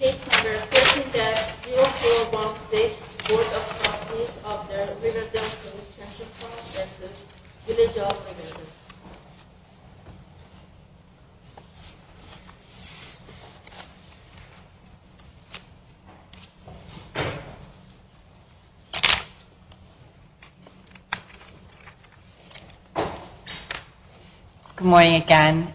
Case No. 13-0416, Board of Trustees of the Riverdale Police-Transit Police Village of Riverdale Good morning again.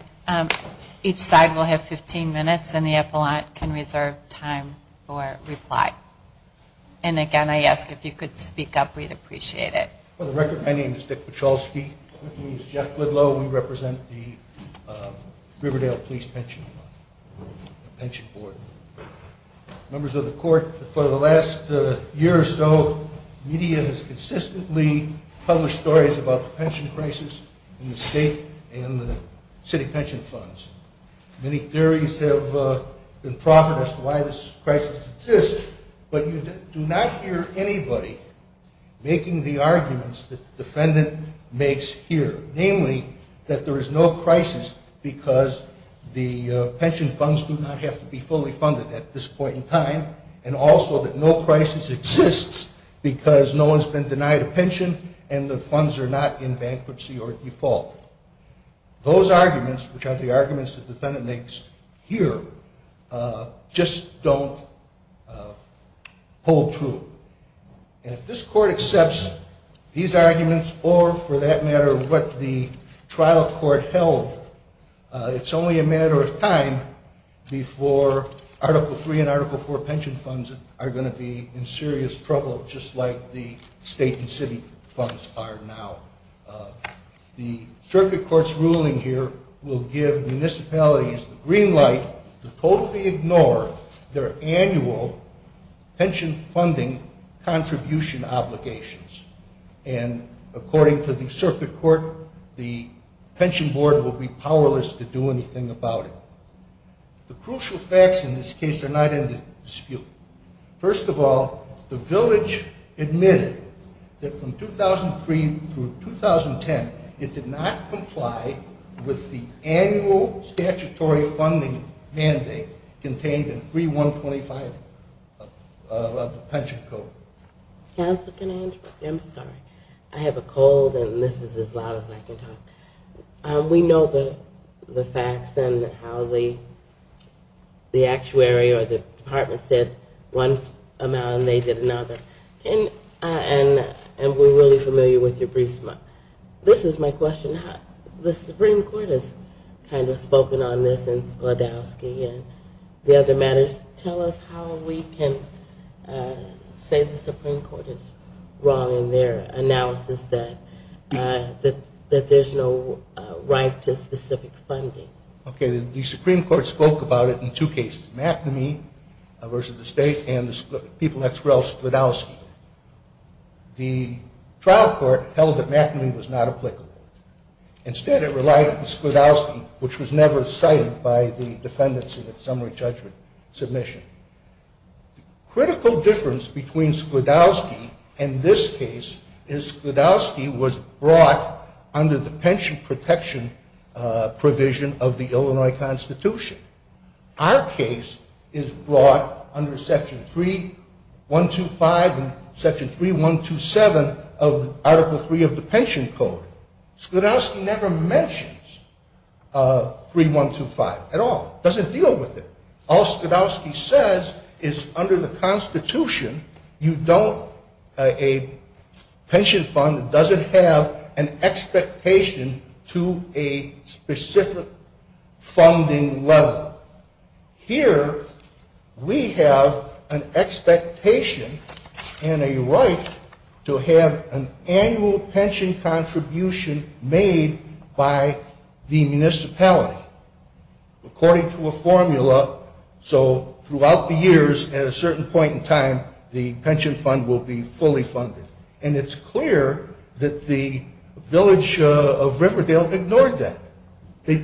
Each side will have 15 minutes and the appellant can reserve time for reply. And again, I ask if you could speak up, we'd appreciate it. For the record, my name is Dick Paczalski, with me is Jeff Goodloe, we represent the Riverdale Police Pension Board. Members of the court, for the last year or so, media has consistently published stories about the pension crisis in the state and the city pension funds. Many theories have been profited as to why this crisis exists, but you do not hear anybody making the arguments that the defendant makes here. Namely, that there is no crisis because the pension funds do not have to be fully funded at this point in time, and also that no crisis exists because no one's been denied a pension and the funds are not in bankruptcy or default. Those arguments, which are the arguments the defendant makes here, just don't hold true. And if this court accepts these arguments or, for that matter, what the trial court held, it's only a matter of time before Article 3 and Article 4 pension funds are going to be in serious trouble, just like the state and city funds are now. The circuit court's ruling here will give municipalities the green light to totally ignore their annual pension funding contribution obligations. And according to the circuit court, the pension board will be powerless to do anything about it. The crucial facts in this case are not in dispute. First of all, the village admitted that from 2003 through 2010, it did not comply with the annual statutory funding mandate contained in 3125 of the pension code. Counsel, can I interrupt? I'm sorry. I have a cold and this is as loud as I can talk. We know the facts and how the actuary or the department said one amount and they did another. And we're really familiar with your briefs. This is my question. The Supreme Court has kind of spoken on this in Sklodowsky and the other matters. Tell us how we can say the Supreme Court is wrong in their analysis that there's no right to specific funding. Okay, the Supreme Court spoke about it in two cases, McNamee versus the state and the people at Sklodowsky. The trial court held that McNamee was not applicable. Instead, it relied on Sklodowsky, which was never cited by the defendants in the summary judgment submission. The critical difference between Sklodowsky and this case is Sklodowsky was brought under the pension protection provision of the Illinois Constitution. Our case is brought under Section 3125 and Section 3127 of Article 3 of the pension code. Sklodowsky never mentions 3125 at all, doesn't deal with it. All Sklodowsky says is under the Constitution, you don't, a pension fund doesn't have an expectation to a specific funding level. Here, we have an expectation and a right to have an annual pension contribution made by the municipality. According to a formula, so throughout the years, at a certain point in time, the pension fund will be fully funded. And it's clear that the village of Riverdale ignored that. They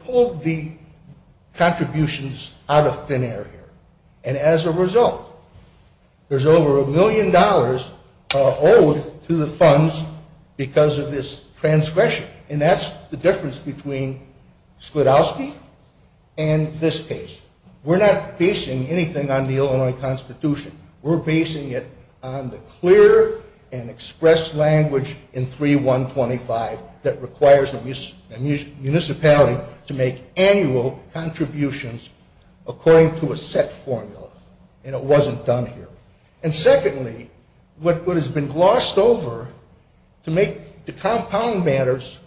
pulled the contributions out of thin air here. And as a result, there's over a million dollars owed to the funds because of this transgression. And that's the difference between Sklodowsky and this case. We're not basing anything on the Illinois Constitution. We're basing it on the clear and expressed language in 3125 that requires the municipality to make annual contributions according to a set formula. And it wasn't done here. And secondly, what has been glossed over to make the compound matters,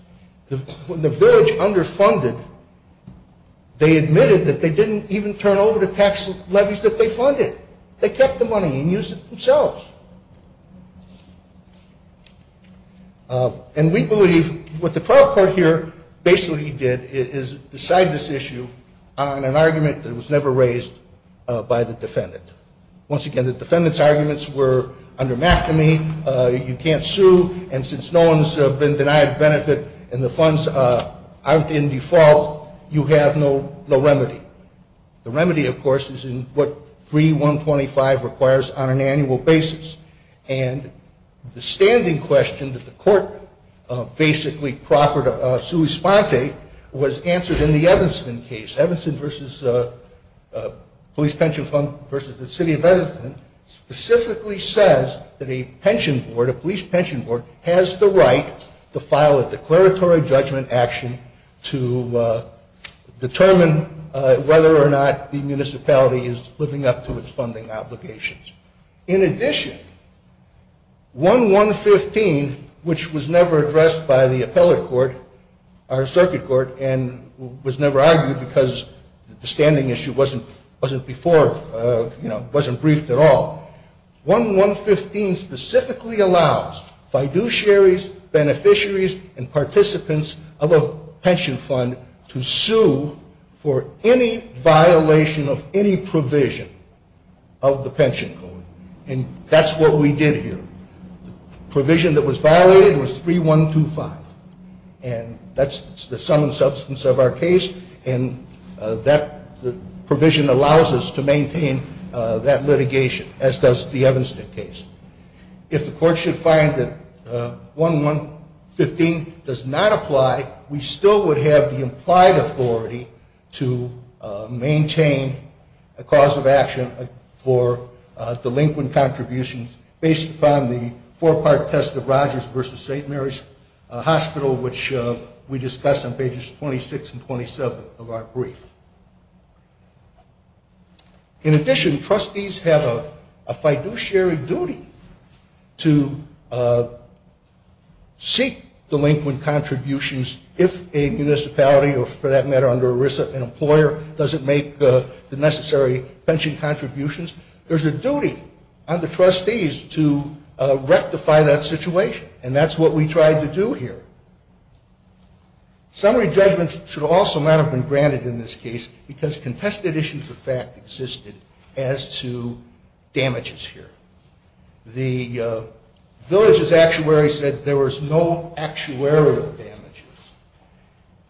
when the village underfunded, they admitted that they didn't even turn over the tax levies that they funded. They kept the money and used it themselves. And we believe what the trial court here basically did is decide this issue on an argument that was never raised by the defendant. Once again, the defendant's arguments were, under McAmey, you can't sue, and since no one's been denied benefit and the funds aren't in default, you have no remedy. The remedy, of course, is in what 3125 requires on an annual basis. And the standing question that the court basically proffered a sua sponte was answered in the Evanston case. Evanston versus Police Pension Fund versus the City of Edmonton specifically says that a pension board, a police pension board, has the right to file a declaratory judgment action to determine if the city of Edmonton has the right to pay a pension. Whether or not the municipality is living up to its funding obligations. In addition, 1115, which was never addressed by the appellate court, our circuit court, and was never argued because the standing issue wasn't before, you know, wasn't briefed at all. 1115 specifically allows fiduciaries, beneficiaries, and participants of a pension fund to sue for any violation of any provision of the pension code. And that's what we did here. The provision that was violated was 3125. And that's the sum and substance of our case, and that provision allows us to maintain that litigation. As does the Evanston case. If the court should find that 1115 does not apply, we still would have the implied authority to maintain a cause of action for delinquent contributions based upon the four-part test of Rogers versus St. Mary's Hospital, which we discussed on pages 26 and 27 of our brief. In addition, trustees have a fiduciary duty to seek delinquent contributions if a municipality, or for that matter, under ERISA, an employer, doesn't make the necessary pension contributions. There's a duty on the trustees to rectify that situation. And that's what we tried to do here. Summary judgments should also not have been granted in this case because contested issues of fact existed as to damages here. The village's actuary said there was no actuarial damages.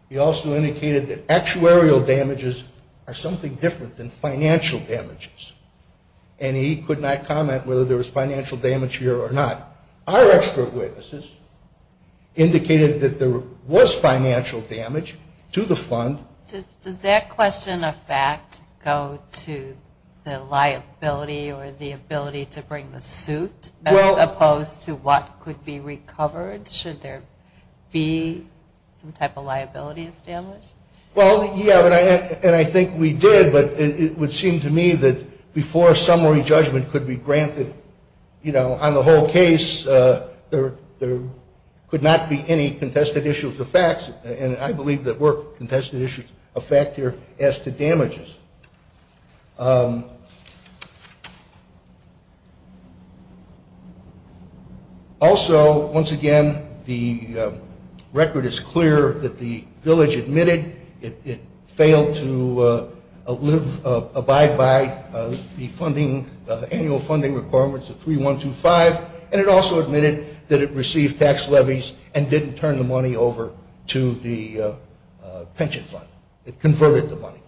He also indicated that actuarial damages are something different than financial damages. And he could not comment whether there was financial damage here or not. Our expert witnesses indicated that there was financial damage to the fund. Does that question of fact go to the liability or the ability to bring the suit as opposed to what could be recovered should there be some type of liability established? Well, yeah, and I think we did, but it would seem to me that before a summary judgment could be granted, you know, on the whole case, there could not be any contested issues of facts. And I believe that were contested issues of fact here as to damages. Also, once again, the record is clear that the village admitted it failed to live, abide by the funding, annual funding requirements of 3125. And it also admitted that it received tax levies and didn't turn the money over to the pension fund. It converted the money.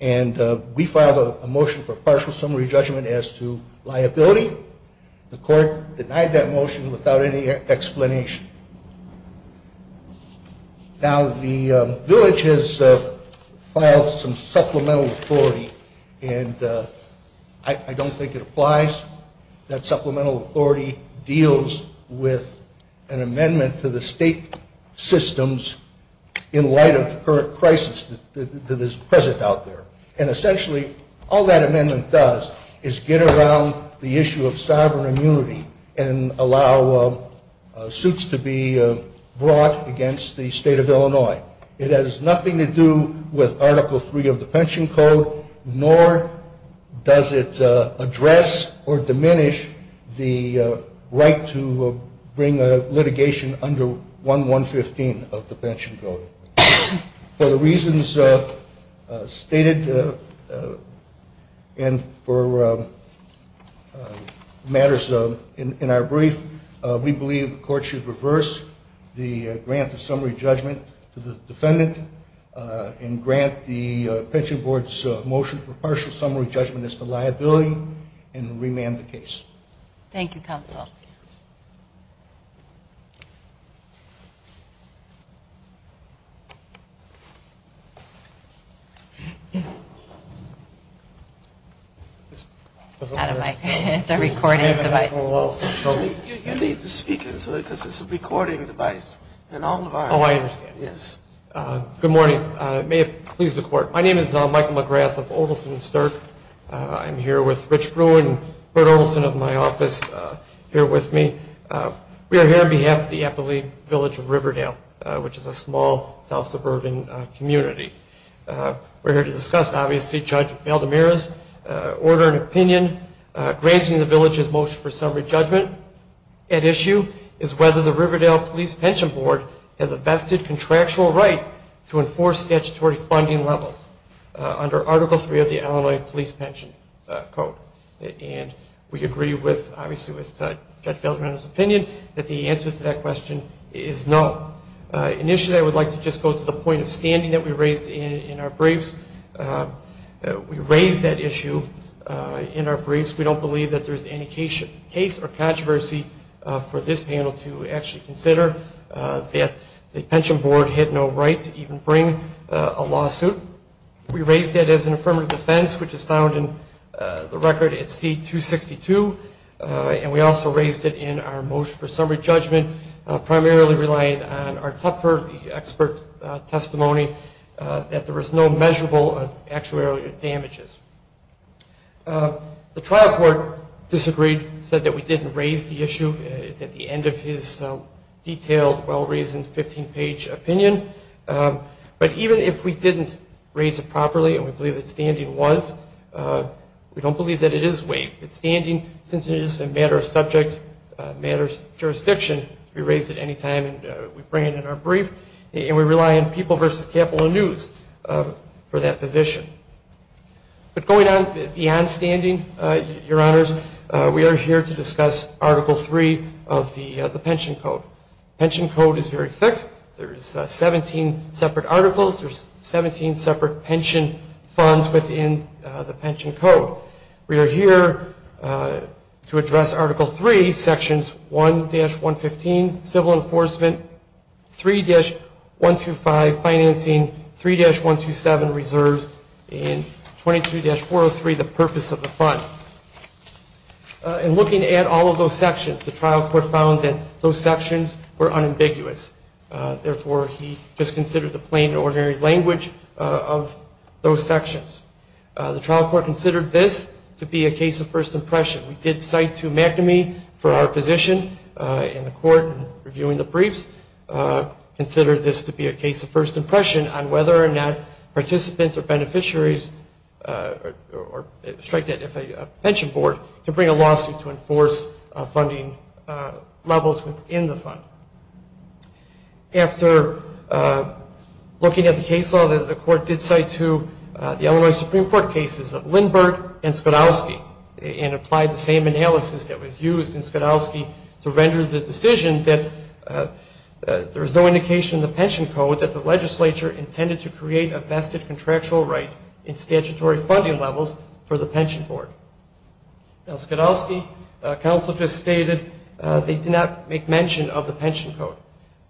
And we filed a motion for partial summary judgment as to liability. The court denied that motion without any explanation. Now, the village has filed some supplemental authority, and I don't think it applies. That supplemental authority deals with an amendment to the state systems in light of the current crisis that is present out there. And essentially, all that amendment does is get around the issue of sovereign immunity and allow suits to be brought against the state of Illinois. It has nothing to do with Article III of the Pension Code, nor does it address or diminish the right to bring litigation under 1115 of the Pension Code. For the reasons stated and for matters in our brief, we believe the court should reverse the grant of summary judgment to the defendant and grant the Pension Board's motion for partial summary judgment as to liability and remand the case. Thank you. We're here to discuss, obviously, Judge Valdemira's order and opinion granting the village's motion for summary judgment. At issue is whether the Riverdale Police Pension Board has a vested contractual right to enforce statutory funding levels under Article III of the Illinois Police Pension Code. And we agree, obviously, with Judge Valdemira's opinion that the answer to that question is no. Initially, I would like to just go to the point of standing that we raised in our briefs. We raised that issue in our briefs. We don't believe that there's any case or controversy for this panel to actually consider that the Pension Board had no right to even bring a lawsuit. We raised that as an affirmative defense, which is found in the record at C-262, and we also raised it in our motion for summary judgment, primarily relying on our Tupper, the expert testimony, that there was no measurable actuarial damages. The trial court disagreed, said that we didn't raise the issue. It's at the end of his detailed, well-reasoned, 15-page opinion. But even if we didn't raise it properly and we believe that standing was, we don't believe that it is waived. It's standing since it is a matter of subject, a matter of jurisdiction. We raise it any time we bring it in our brief, and we rely on People v. Capital News for that position. But going on beyond standing, Your Honors, we are here to discuss Article III of the Pension Code. Pension Code is very thick. There's 17 separate articles. There's 17 separate pension funds within the Pension Code. We are here to address Article III, Sections 1-115, Civil Enforcement, 3-125, Financing, 3-127, Reserves, and 22-403, the Purpose of the Fund. In looking at all of those sections, the trial court found that those sections were unambiguous. Therefore, he disconsidered the plain and ordinary language of those sections. The trial court considered this to be a case of first impression. We did cite to McNamee for our position in the court in reviewing the briefs, considered this to be a case of first impression on whether or not participants or beneficiaries or, strike that if a pension board, can bring a lawsuit to enforce funding levels within the fund. After looking at the case law, the court did cite to the Illinois Supreme Court cases of Lindbergh and Skidowski, and applied the same analysis that was used in Skidowski to render the decision that there is no indication in the Pension Code that the legislature intended to create a vested contractual right in statutory funding levels for the pension board. In Skidowski, counsel just stated they did not make mention of the Pension Code.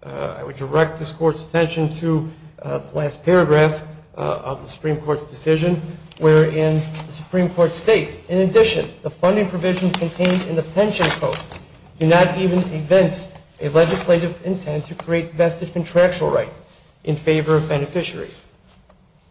I would direct this Court's attention to the last paragraph of the Supreme Court's decision wherein the Supreme Court states, in addition, the funding provisions contained in the Pension Code do not even convince a legislative intent to create vested contractual rights in favor of beneficiaries.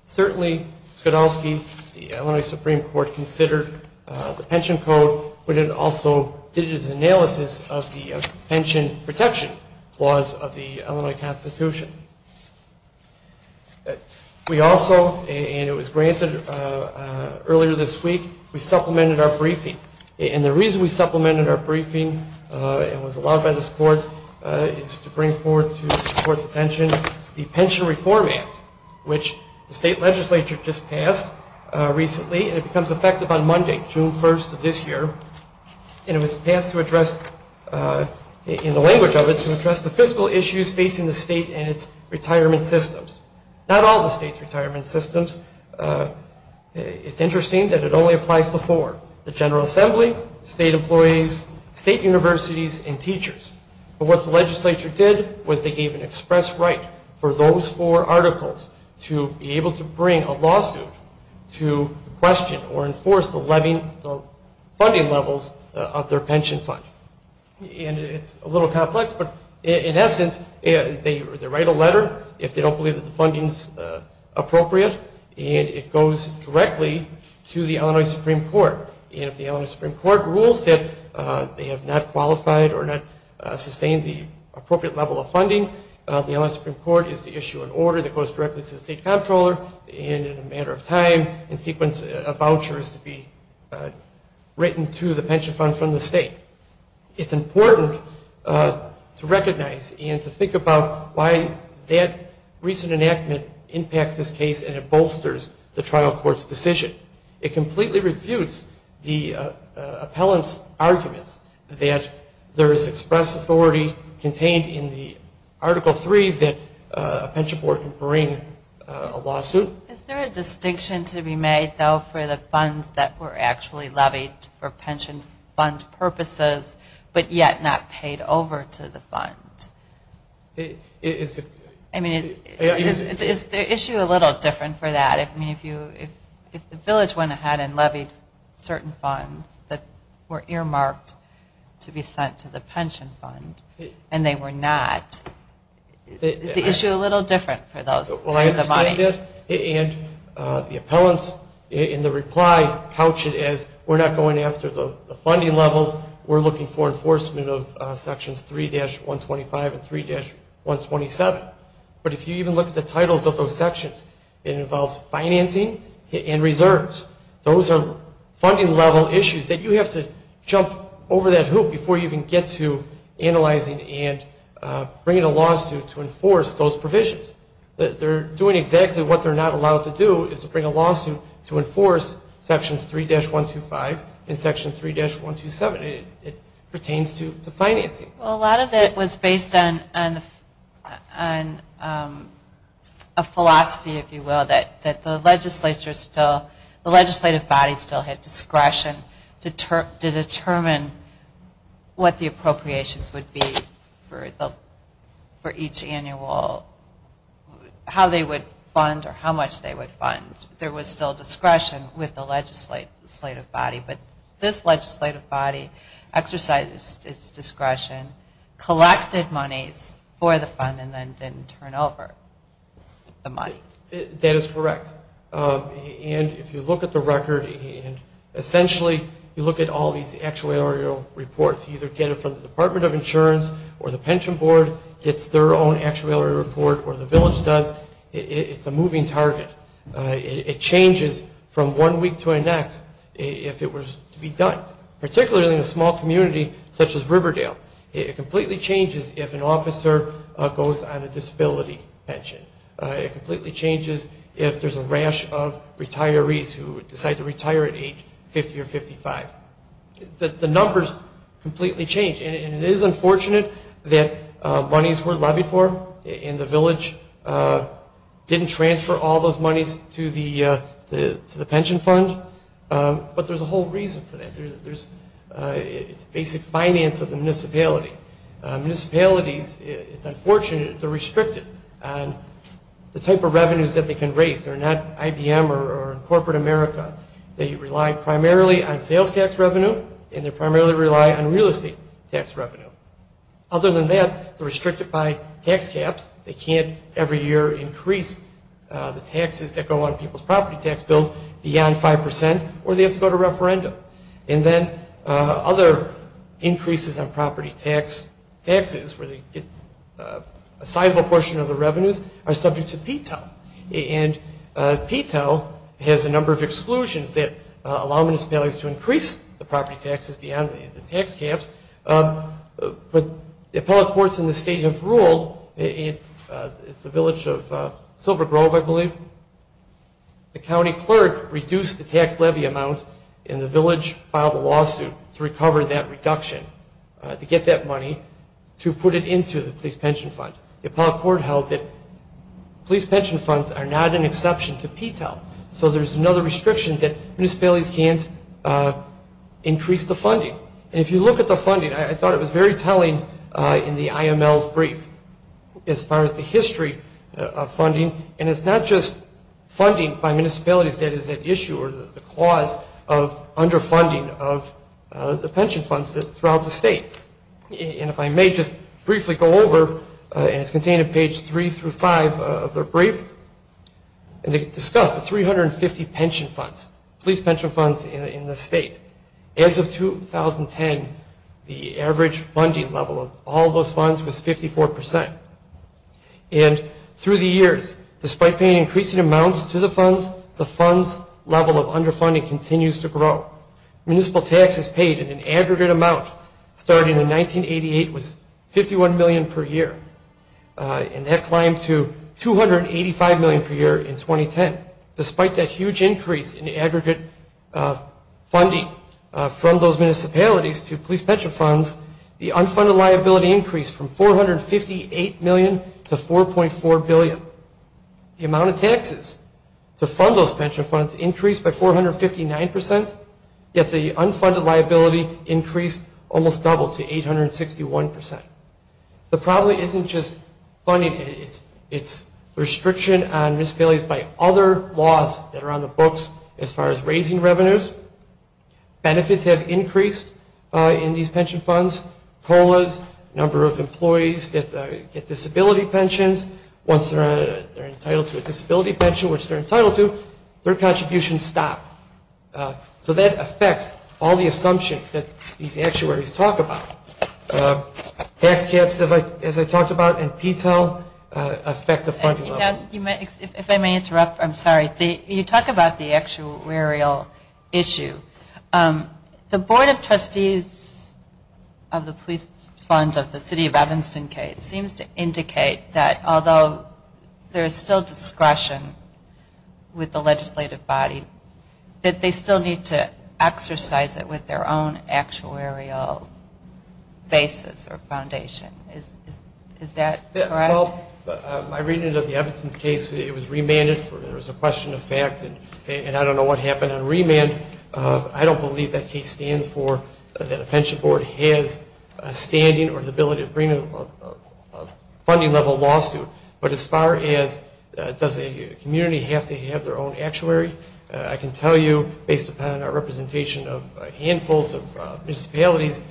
Certainly, Skidowski, the Illinois Supreme Court considered the Pension Code, but it also did its analysis of the pension protection laws of the Illinois Constitution. We also, and it was granted earlier this week, we supplemented our briefing. And the reason we supplemented our briefing, and was allowed by this Court, is to bring forward to this Court's attention the Pension Reform Act, which the state legislature just passed recently, and it becomes effective on Monday, June 1st of this year, and it was passed to address, in the language of it, to address the fiscal issues facing the state and its employees. It's interesting that it only applies to four, the General Assembly, state employees, state universities, and teachers. But what the legislature did was they gave an express right for those four articles to be able to bring a lawsuit to question or enforce the funding levels of their pension fund. And it's a little complex, but in essence, they write a letter if they don't believe that the funding's appropriate, and it goes directly to the Illinois Supreme Court. And if the Illinois Supreme Court rules that they have not qualified or not sustained the appropriate level of funding, the Illinois Supreme Court is to issue an order that goes directly to the state comptroller, and in a matter of time, in sequence of vouchers to be written to the pension fund from the state. It's important to recognize and to think about why that recent enactment impacts this case and it bolsters the trial court's decision. It completely refutes the appellant's arguments that there is express authority contained in the Article 3 that a pension board can bring a lawsuit. Is there a distinction to be made, though, for the funds that were actually levied for pension fund purposes but yet not paid over to the fund? I mean, is the issue a little different for that? I mean, if the village went ahead and levied certain funds that were earmarked to be sent to the pension fund and they were not, is the issue a little different for those kinds of monies? And the appellants in the reply pouch it as, we're not going after the funding levels. We're looking for enforcement of Sections 3-125 and 3-127. But if you even look at the titles of those sections, it involves financing and reserves. Those are funding level issues that you have to jump over that hoop before you can get to analyzing and bringing a lawsuit to enforce those provisions. They're doing exactly what they're not allowed to do is to bring a lawsuit to enforce Sections 3-125 and Section 3-127. It pertains to the financing. Well, a lot of it was based on a philosophy, if you will, that the legislature still, the legislative body still had discretion to determine what the appropriations would be for each annual, how they would fund or how much they would fund. There was still discretion with the legislative body, but this legislative body exercised its discretion, collected monies for the fund, and then didn't turn over the money. That is correct. And if you look at the record and essentially you look at all these actuarial reports, you either get it from the Department of Insurance or the pension board gets their own actuarial report or the village does, it's a moving target. It changes from one week to the next if it were to be done, particularly in a small community such as Riverdale. It completely changes if an officer goes on a disability pension. It completely changes if there's a rash of retirees who decide to retire at age 50 or 55. The numbers completely change and it is unfortunate that monies were levied for and the village didn't transfer all those monies to the pension fund, but there's a whole reason for that. It's basic finance of the municipality. Municipalities, it's unfortunate, they're restricted on the type of revenues that they can raise. They're not IBM or corporate America. They rely primarily on sales tax revenue and they primarily rely on real estate tax revenue. Other than that, they're restricted by tax caps. They can't every year increase the taxes that go on people's property tax bills beyond 5% or they have to go to referendum. And then other increases on property taxes, where they get a sizable portion of the revenues, are subject to PTEL. And PTEL has a number of exclusions that allow municipalities to increase the property taxes beyond the tax caps. But the appellate courts in the state have ruled, it's the village of Silver Grove, I believe, the county clerk reduced the tax levy amount in the village. The village filed a lawsuit to recover that reduction, to get that money, to put it into the police pension fund. The appellate court held that police pension funds are not an exception to PTEL. So there's another restriction that municipalities can't increase the funding. And if you look at the funding, I thought it was very telling in the IML's brief as far as the history of funding. And it's not just funding by municipalities that is at issue or the cause of underfunding of the pension funds throughout the state. And if I may just briefly go over, and it's contained in page 3 through 5 of their brief, they discussed the 350 pension funds, police pension funds in the state. As of 2010, the average funding level of all those funds was 54%. And through the years, despite paying increasing amounts to the funds, the funds level of underfunding continues to grow. Municipal taxes paid in an aggregate amount starting in 1988 was $51 million per year. And that climbed to $285 million per year in 2010. Despite that huge increase in aggregate funding from those municipalities to police pension funds, the unfunded liability increased from $458 million to $4.4 billion. The amount of taxes to fund those pension funds increased by 459%, yet the unfunded liability increased almost double to 861%. The problem isn't just funding, it's restriction on municipalities by other laws that are on the books as far as raising revenues. Benefits have increased in these pension funds, COLAs, number of employees that get disability pensions. Once they're entitled to a disability pension, which they're entitled to, their contributions stop. So that affects all the assumptions that these actuaries talk about. Tax caps, as I talked about in detail, affect the funding levels. If I may interrupt, I'm sorry. You talk about the actuarial issue. The board of trustees of the police funds of the city of Evanston case seems to indicate that although there is still discretion with the legislative body, that they still need to exercise it with their own actuarial basis or foundation. Is that correct? Well, my reading of the Evanston case, it was remanded. There was a question of fact, and I don't know what happened on remand. I don't believe that case stands for that a pension board has standing or the ability to bring a funding level lawsuit. But as far as does a community have to have their own actuary, I can tell you based upon our representation of handfuls of municipalities,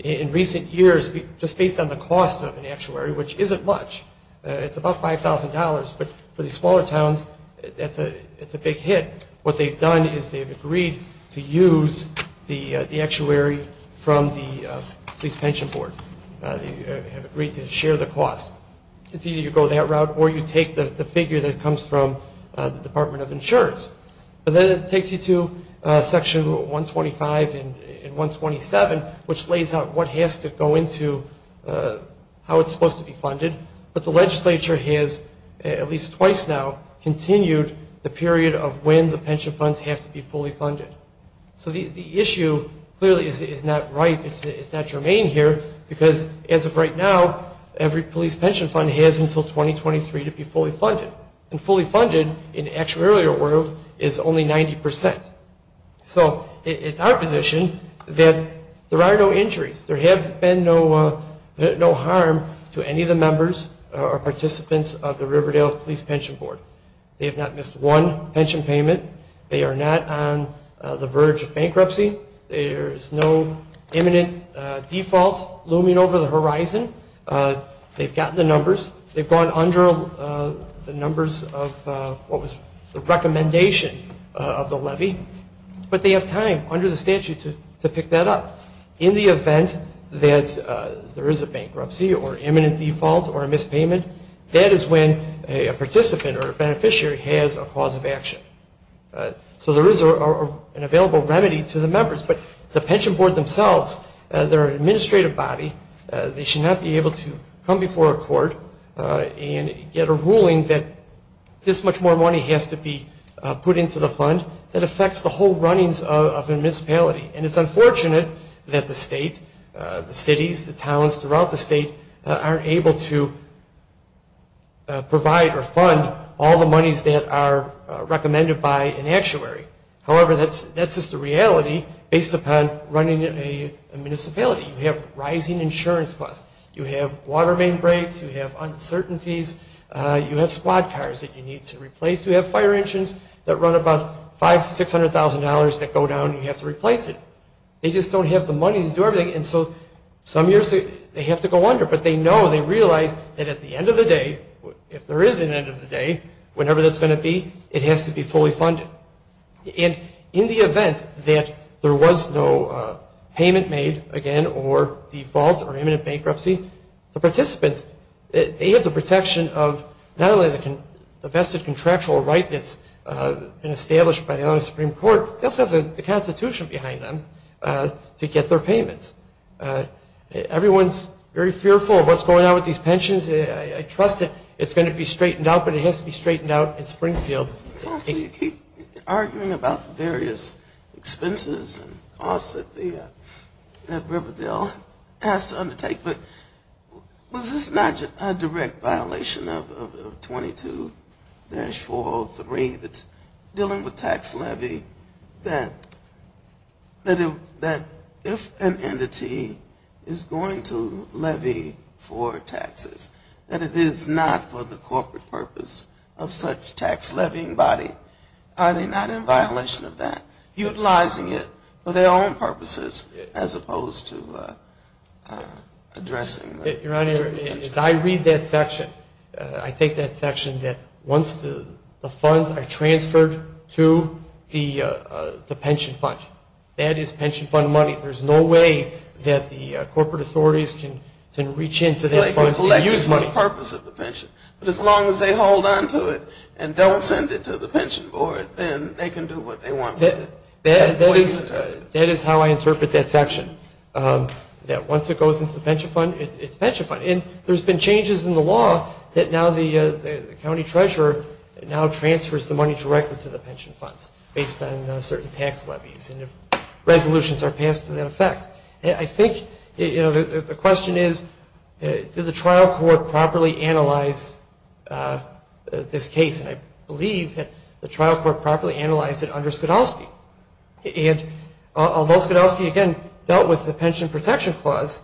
in recent years, just based on the cost of an actuary, which isn't much, it's about $5,000, but for these smaller towns, it's a big hit. What they've done is they've agreed to use the actuary from the police pension board. They have agreed to share the cost. It's either you go that route or you take the figure that comes from the Department of Insurance. But then it takes you to section 125 and 127, which lays out what has to go into how it's supposed to be funded. But the legislature has, at least twice now, continued the period of when the pension funds have to be fully funded. So the issue clearly is not ripe, it's not germane here, because as of right now, every police pension fund has until 2023 to be fully funded. And fully funded in the actuary world is only 90%. So it's our position that there are no injuries. There have been no harm to any of the members or participants of the Riverdale Police Pension Board. They have not missed one pension payment. They are not on the verge of bankruptcy. There's no imminent default looming over the horizon. They've gotten the numbers. They've gone under the numbers of what was the recommendation of the levy. But they have time, under the statute, to pick that up. In the event that there is a bankruptcy or imminent default or a missed payment, that is when a participant or a beneficiary has a cause of action. So there is an available remedy to the members. But the pension board themselves, they're an administrative body. They should not be able to come before a court and get a ruling that this much more money has to be put into the fund. That affects the whole runnings of a municipality. And it's unfortunate that the state, the cities, the towns throughout the state, aren't able to provide or fund all the monies that are recommended by an actuary. However, that's just a reality based upon running a municipality. You have rising insurance costs. You have water main breaks. You have uncertainties. You have squad cars that you need to replace. You have fire engines that run about 40 miles per hour. You have a lot of other things. You have $500,000, $600,000 that go down and you have to replace it. They just don't have the money to do everything. And so some years they have to go under. But they know, they realize that at the end of the day, if there is an end of the day, whenever that's going to be, it has to be fully funded. And in the event that there was no payment made, again, or default or imminent bankruptcy, the participants, they have the protection of not only the vested contractual right that's been established by the United States Supreme Court, they also have the Constitution behind them to get their payments. Everyone's very fearful of what's going on with these pensions. I trust that it's going to be straightened out, but it has to be straightened out in Springfield. You keep arguing about various expenses and costs that Riverdale has to undertake, but was this not a direct violation of 22-403 that's dealing with tax levy, that if an entity is going to levy for taxes, that it is not for the corporate purpose of such tax levy? Are they not in violation of that? Utilizing it for their own purposes as opposed to addressing it? Your Honor, as I read that section, I think that section that once the funds are transferred to the pension fund, that is pension fund money. There's no way that the corporate authorities can reach into that fund and use money. But as long as they hold on to it and don't send it to the pension board, then they can do what they want with it. That is how I interpret that section, that once it goes into the pension fund, it's pension fund. And there's been changes in the law that now the county treasurer now transfers the money directly to the pension funds based on certain tax levies and if resolutions are passed to that effect. I think the question is, did the trial court properly analyze this case? And I believe that the trial court properly analyzed it under Skidowski. And although Skidowski again dealt with the pension protection clause,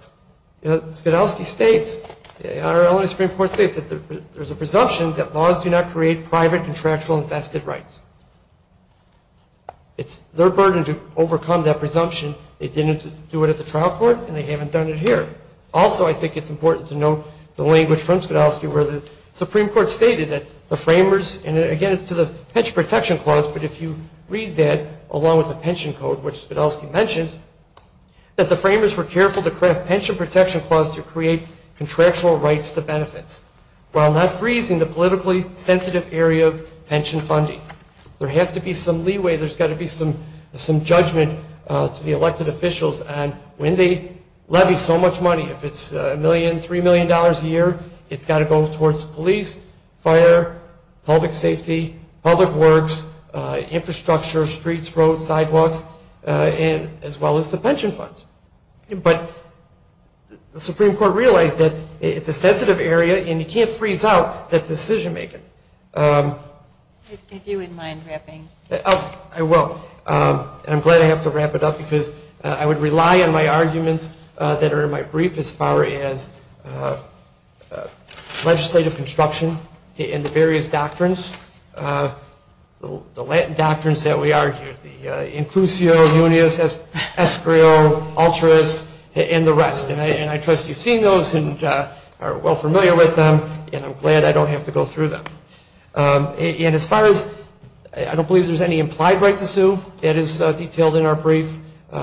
Skidowski states, Your Honor, only the Supreme Court states that there's a presumption that laws do not create private contractual infested rights. It's their burden to overcome that presumption. They didn't do it at the trial court and they haven't done it here. Also, I think it's important to note the language from Skidowski where the Supreme Court stated that the framers, and again, it's to the pension protection clause, but if you read that along with the pension code, which Skidowski mentions, that the framers were careful to craft pension protection clause to create contractual rights to benefits while not freezing the politically sensitive area of pension funding. There has to be some leeway. There's got to be some judgment to the elected officials on when they levy so much money. If it's a million, $3 million a year, it's got to go towards police, fire, public safety, public works, infrastructure, streets, roads, sidewalks, as well as the pension funds. But the Supreme Court realized that it's a sensitive area and you can't freeze out that decision making. If you wouldn't mind wrapping. Oh, I will. I'm glad I have to wrap it up because I would rely on my arguments that are in my brief as far as legislative construction and the various doctrines, the Latin doctrines that we argue, the inclusio, unius, escrio, altruis, and the rest. And I trust you've seen those and are well familiar with them, and I'm glad I don't have to go through them. And as far as I don't believe there's any implied right to sue, that is detailed in our brief,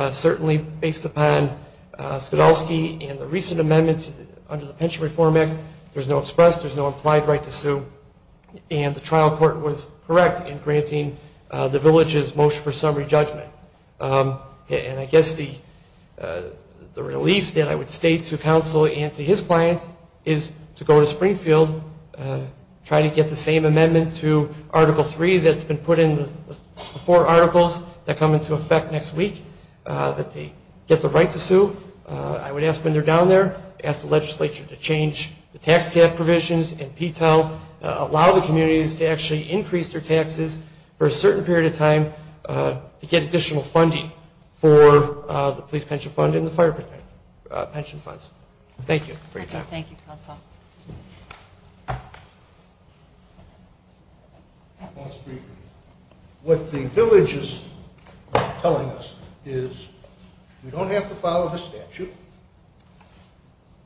certainly based upon Skidowski and the recent amendment under the Pension Reform Act. There's no express. There's no implied right to sue. And the trial court was correct in granting the village's motion for summary judgment. And I guess the relief that I would state to counsel and to his clients is to go to Springfield, try to get the same amendment to Article 3 that's been put in the four articles that come into effect next week, that they get the right to sue. I would ask when they're down there, ask the legislature to change the tax cap provisions and P-TEL, allow the communities to actually increase their taxes for a certain period of time to get additional funding for the police pension fund and the fire pension funds. Thank you for your time. Thank you, counsel. What the village is telling us is we don't have to follow the statute.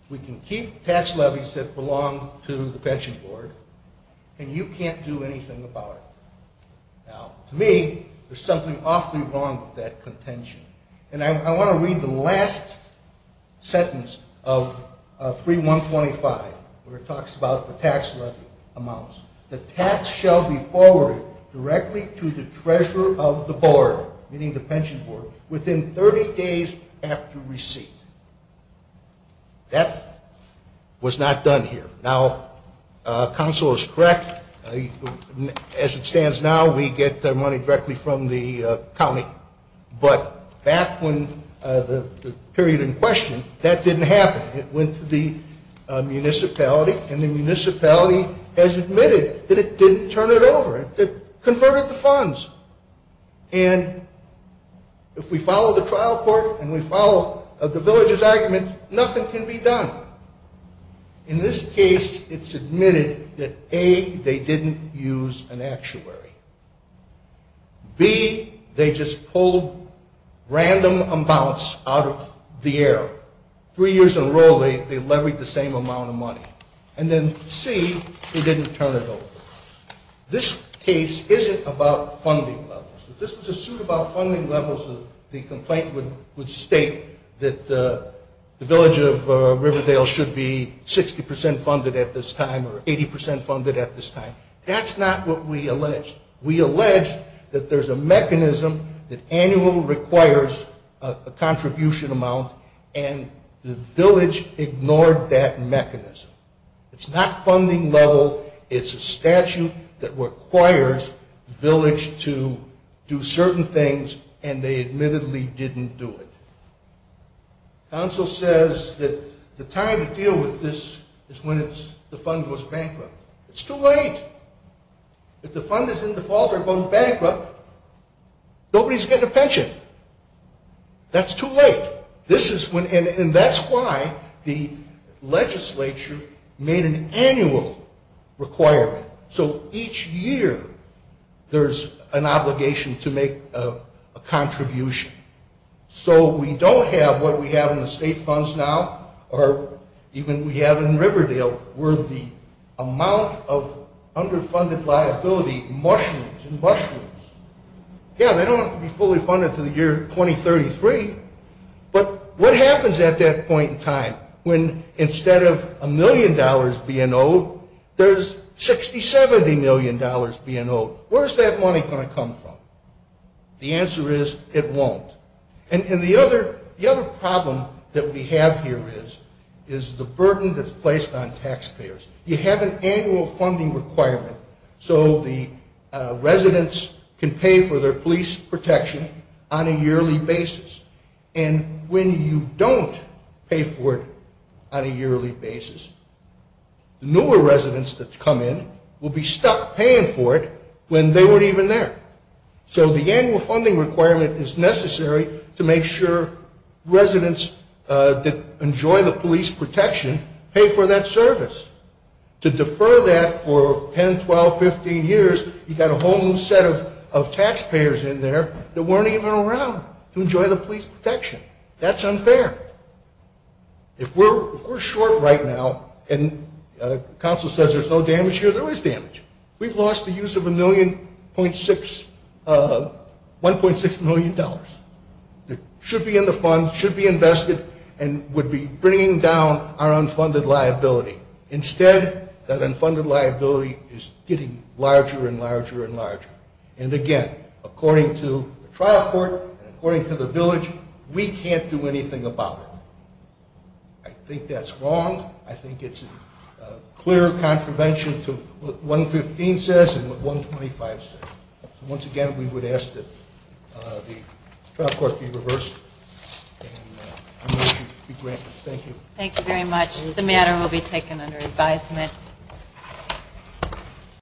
We can keep tax levies that belong to the Pension Board, and you can't do anything about it. Now, to me, there's something awfully wrong with that contention, and I want to read the last sentence of 3-125. It talks about the tax levy amounts. The tax shall be forwarded directly to the treasurer of the board, meaning the Pension Board, within 30 days after receipt. That was not done here. Now, counsel is correct. As it stands now, we get the money directly from the county. But back when the period in question, that didn't happen. It went to the municipality, and the municipality has admitted that it didn't turn it over. It converted the funds. And if we follow the trial court and we follow the village's argument, nothing can be done. In this case, it's admitted that, A, they didn't use an actuary. B, they just pulled random amounts out of the air. Three years in a row, they leveraged the same amount of money. And then, C, they didn't turn it over. This case isn't about funding levels. If this was a suit about funding levels, the complaint would state that the village of Riverdale should be 60 percent funded at this time or 80 percent funded at this time. That's not what we allege. We allege that there's a mechanism that annually requires a contribution amount, and the village ignored that mechanism. It's not funding level. It's a statute that requires the village to do certain things, and they admittedly didn't do it. Counsel says that the time to deal with this is when the fund goes bankrupt. It's too late. If the fund is in default or goes bankrupt, nobody's getting a pension. That's too late. And that's why the legislature made an annual requirement. So each year, there's an obligation to make a contribution. So we don't have what we have in the state funds now, or even we have in Riverdale, where the amount of underfunded liability mushrooms and mushrooms. Yeah, they don't have to be fully funded until the year 2033, but what happens at that point in time when instead of a million dollars being owed, there's 60, 70 million dollars being owed? Where's that money going to come from? The answer is it won't. And the other problem that we have here is the burden that's placed on taxpayers. You have an annual funding requirement, so the residents can pay for their police protection on a yearly basis, and when you don't pay for it on a yearly basis, the newer residents that come in will be stuck paying for it when they weren't even there. So the annual funding requirement is necessary to make sure residents that enjoy the police protection pay for that service. To defer that for 10, 12, 15 years, you've got a whole new set of taxpayers in there that weren't even around to enjoy the police protection. That's unfair. If we're short right now and the council says there's no damage here, there is damage. We've lost the use of $1.6 million that should be in the fund, should be invested, and would be bringing down our unfunded liability. Instead, that unfunded liability is getting larger and larger and larger. And again, according to the trial court and according to the village, we can't do anything about it. I think that's wrong. I think it's a clear contravention to what 115 says and what 125 says. So once again, we would ask that the trial court be reversed, and I'll let you be granted. Thank you. Thank you very much. The matter will be taken under advisement.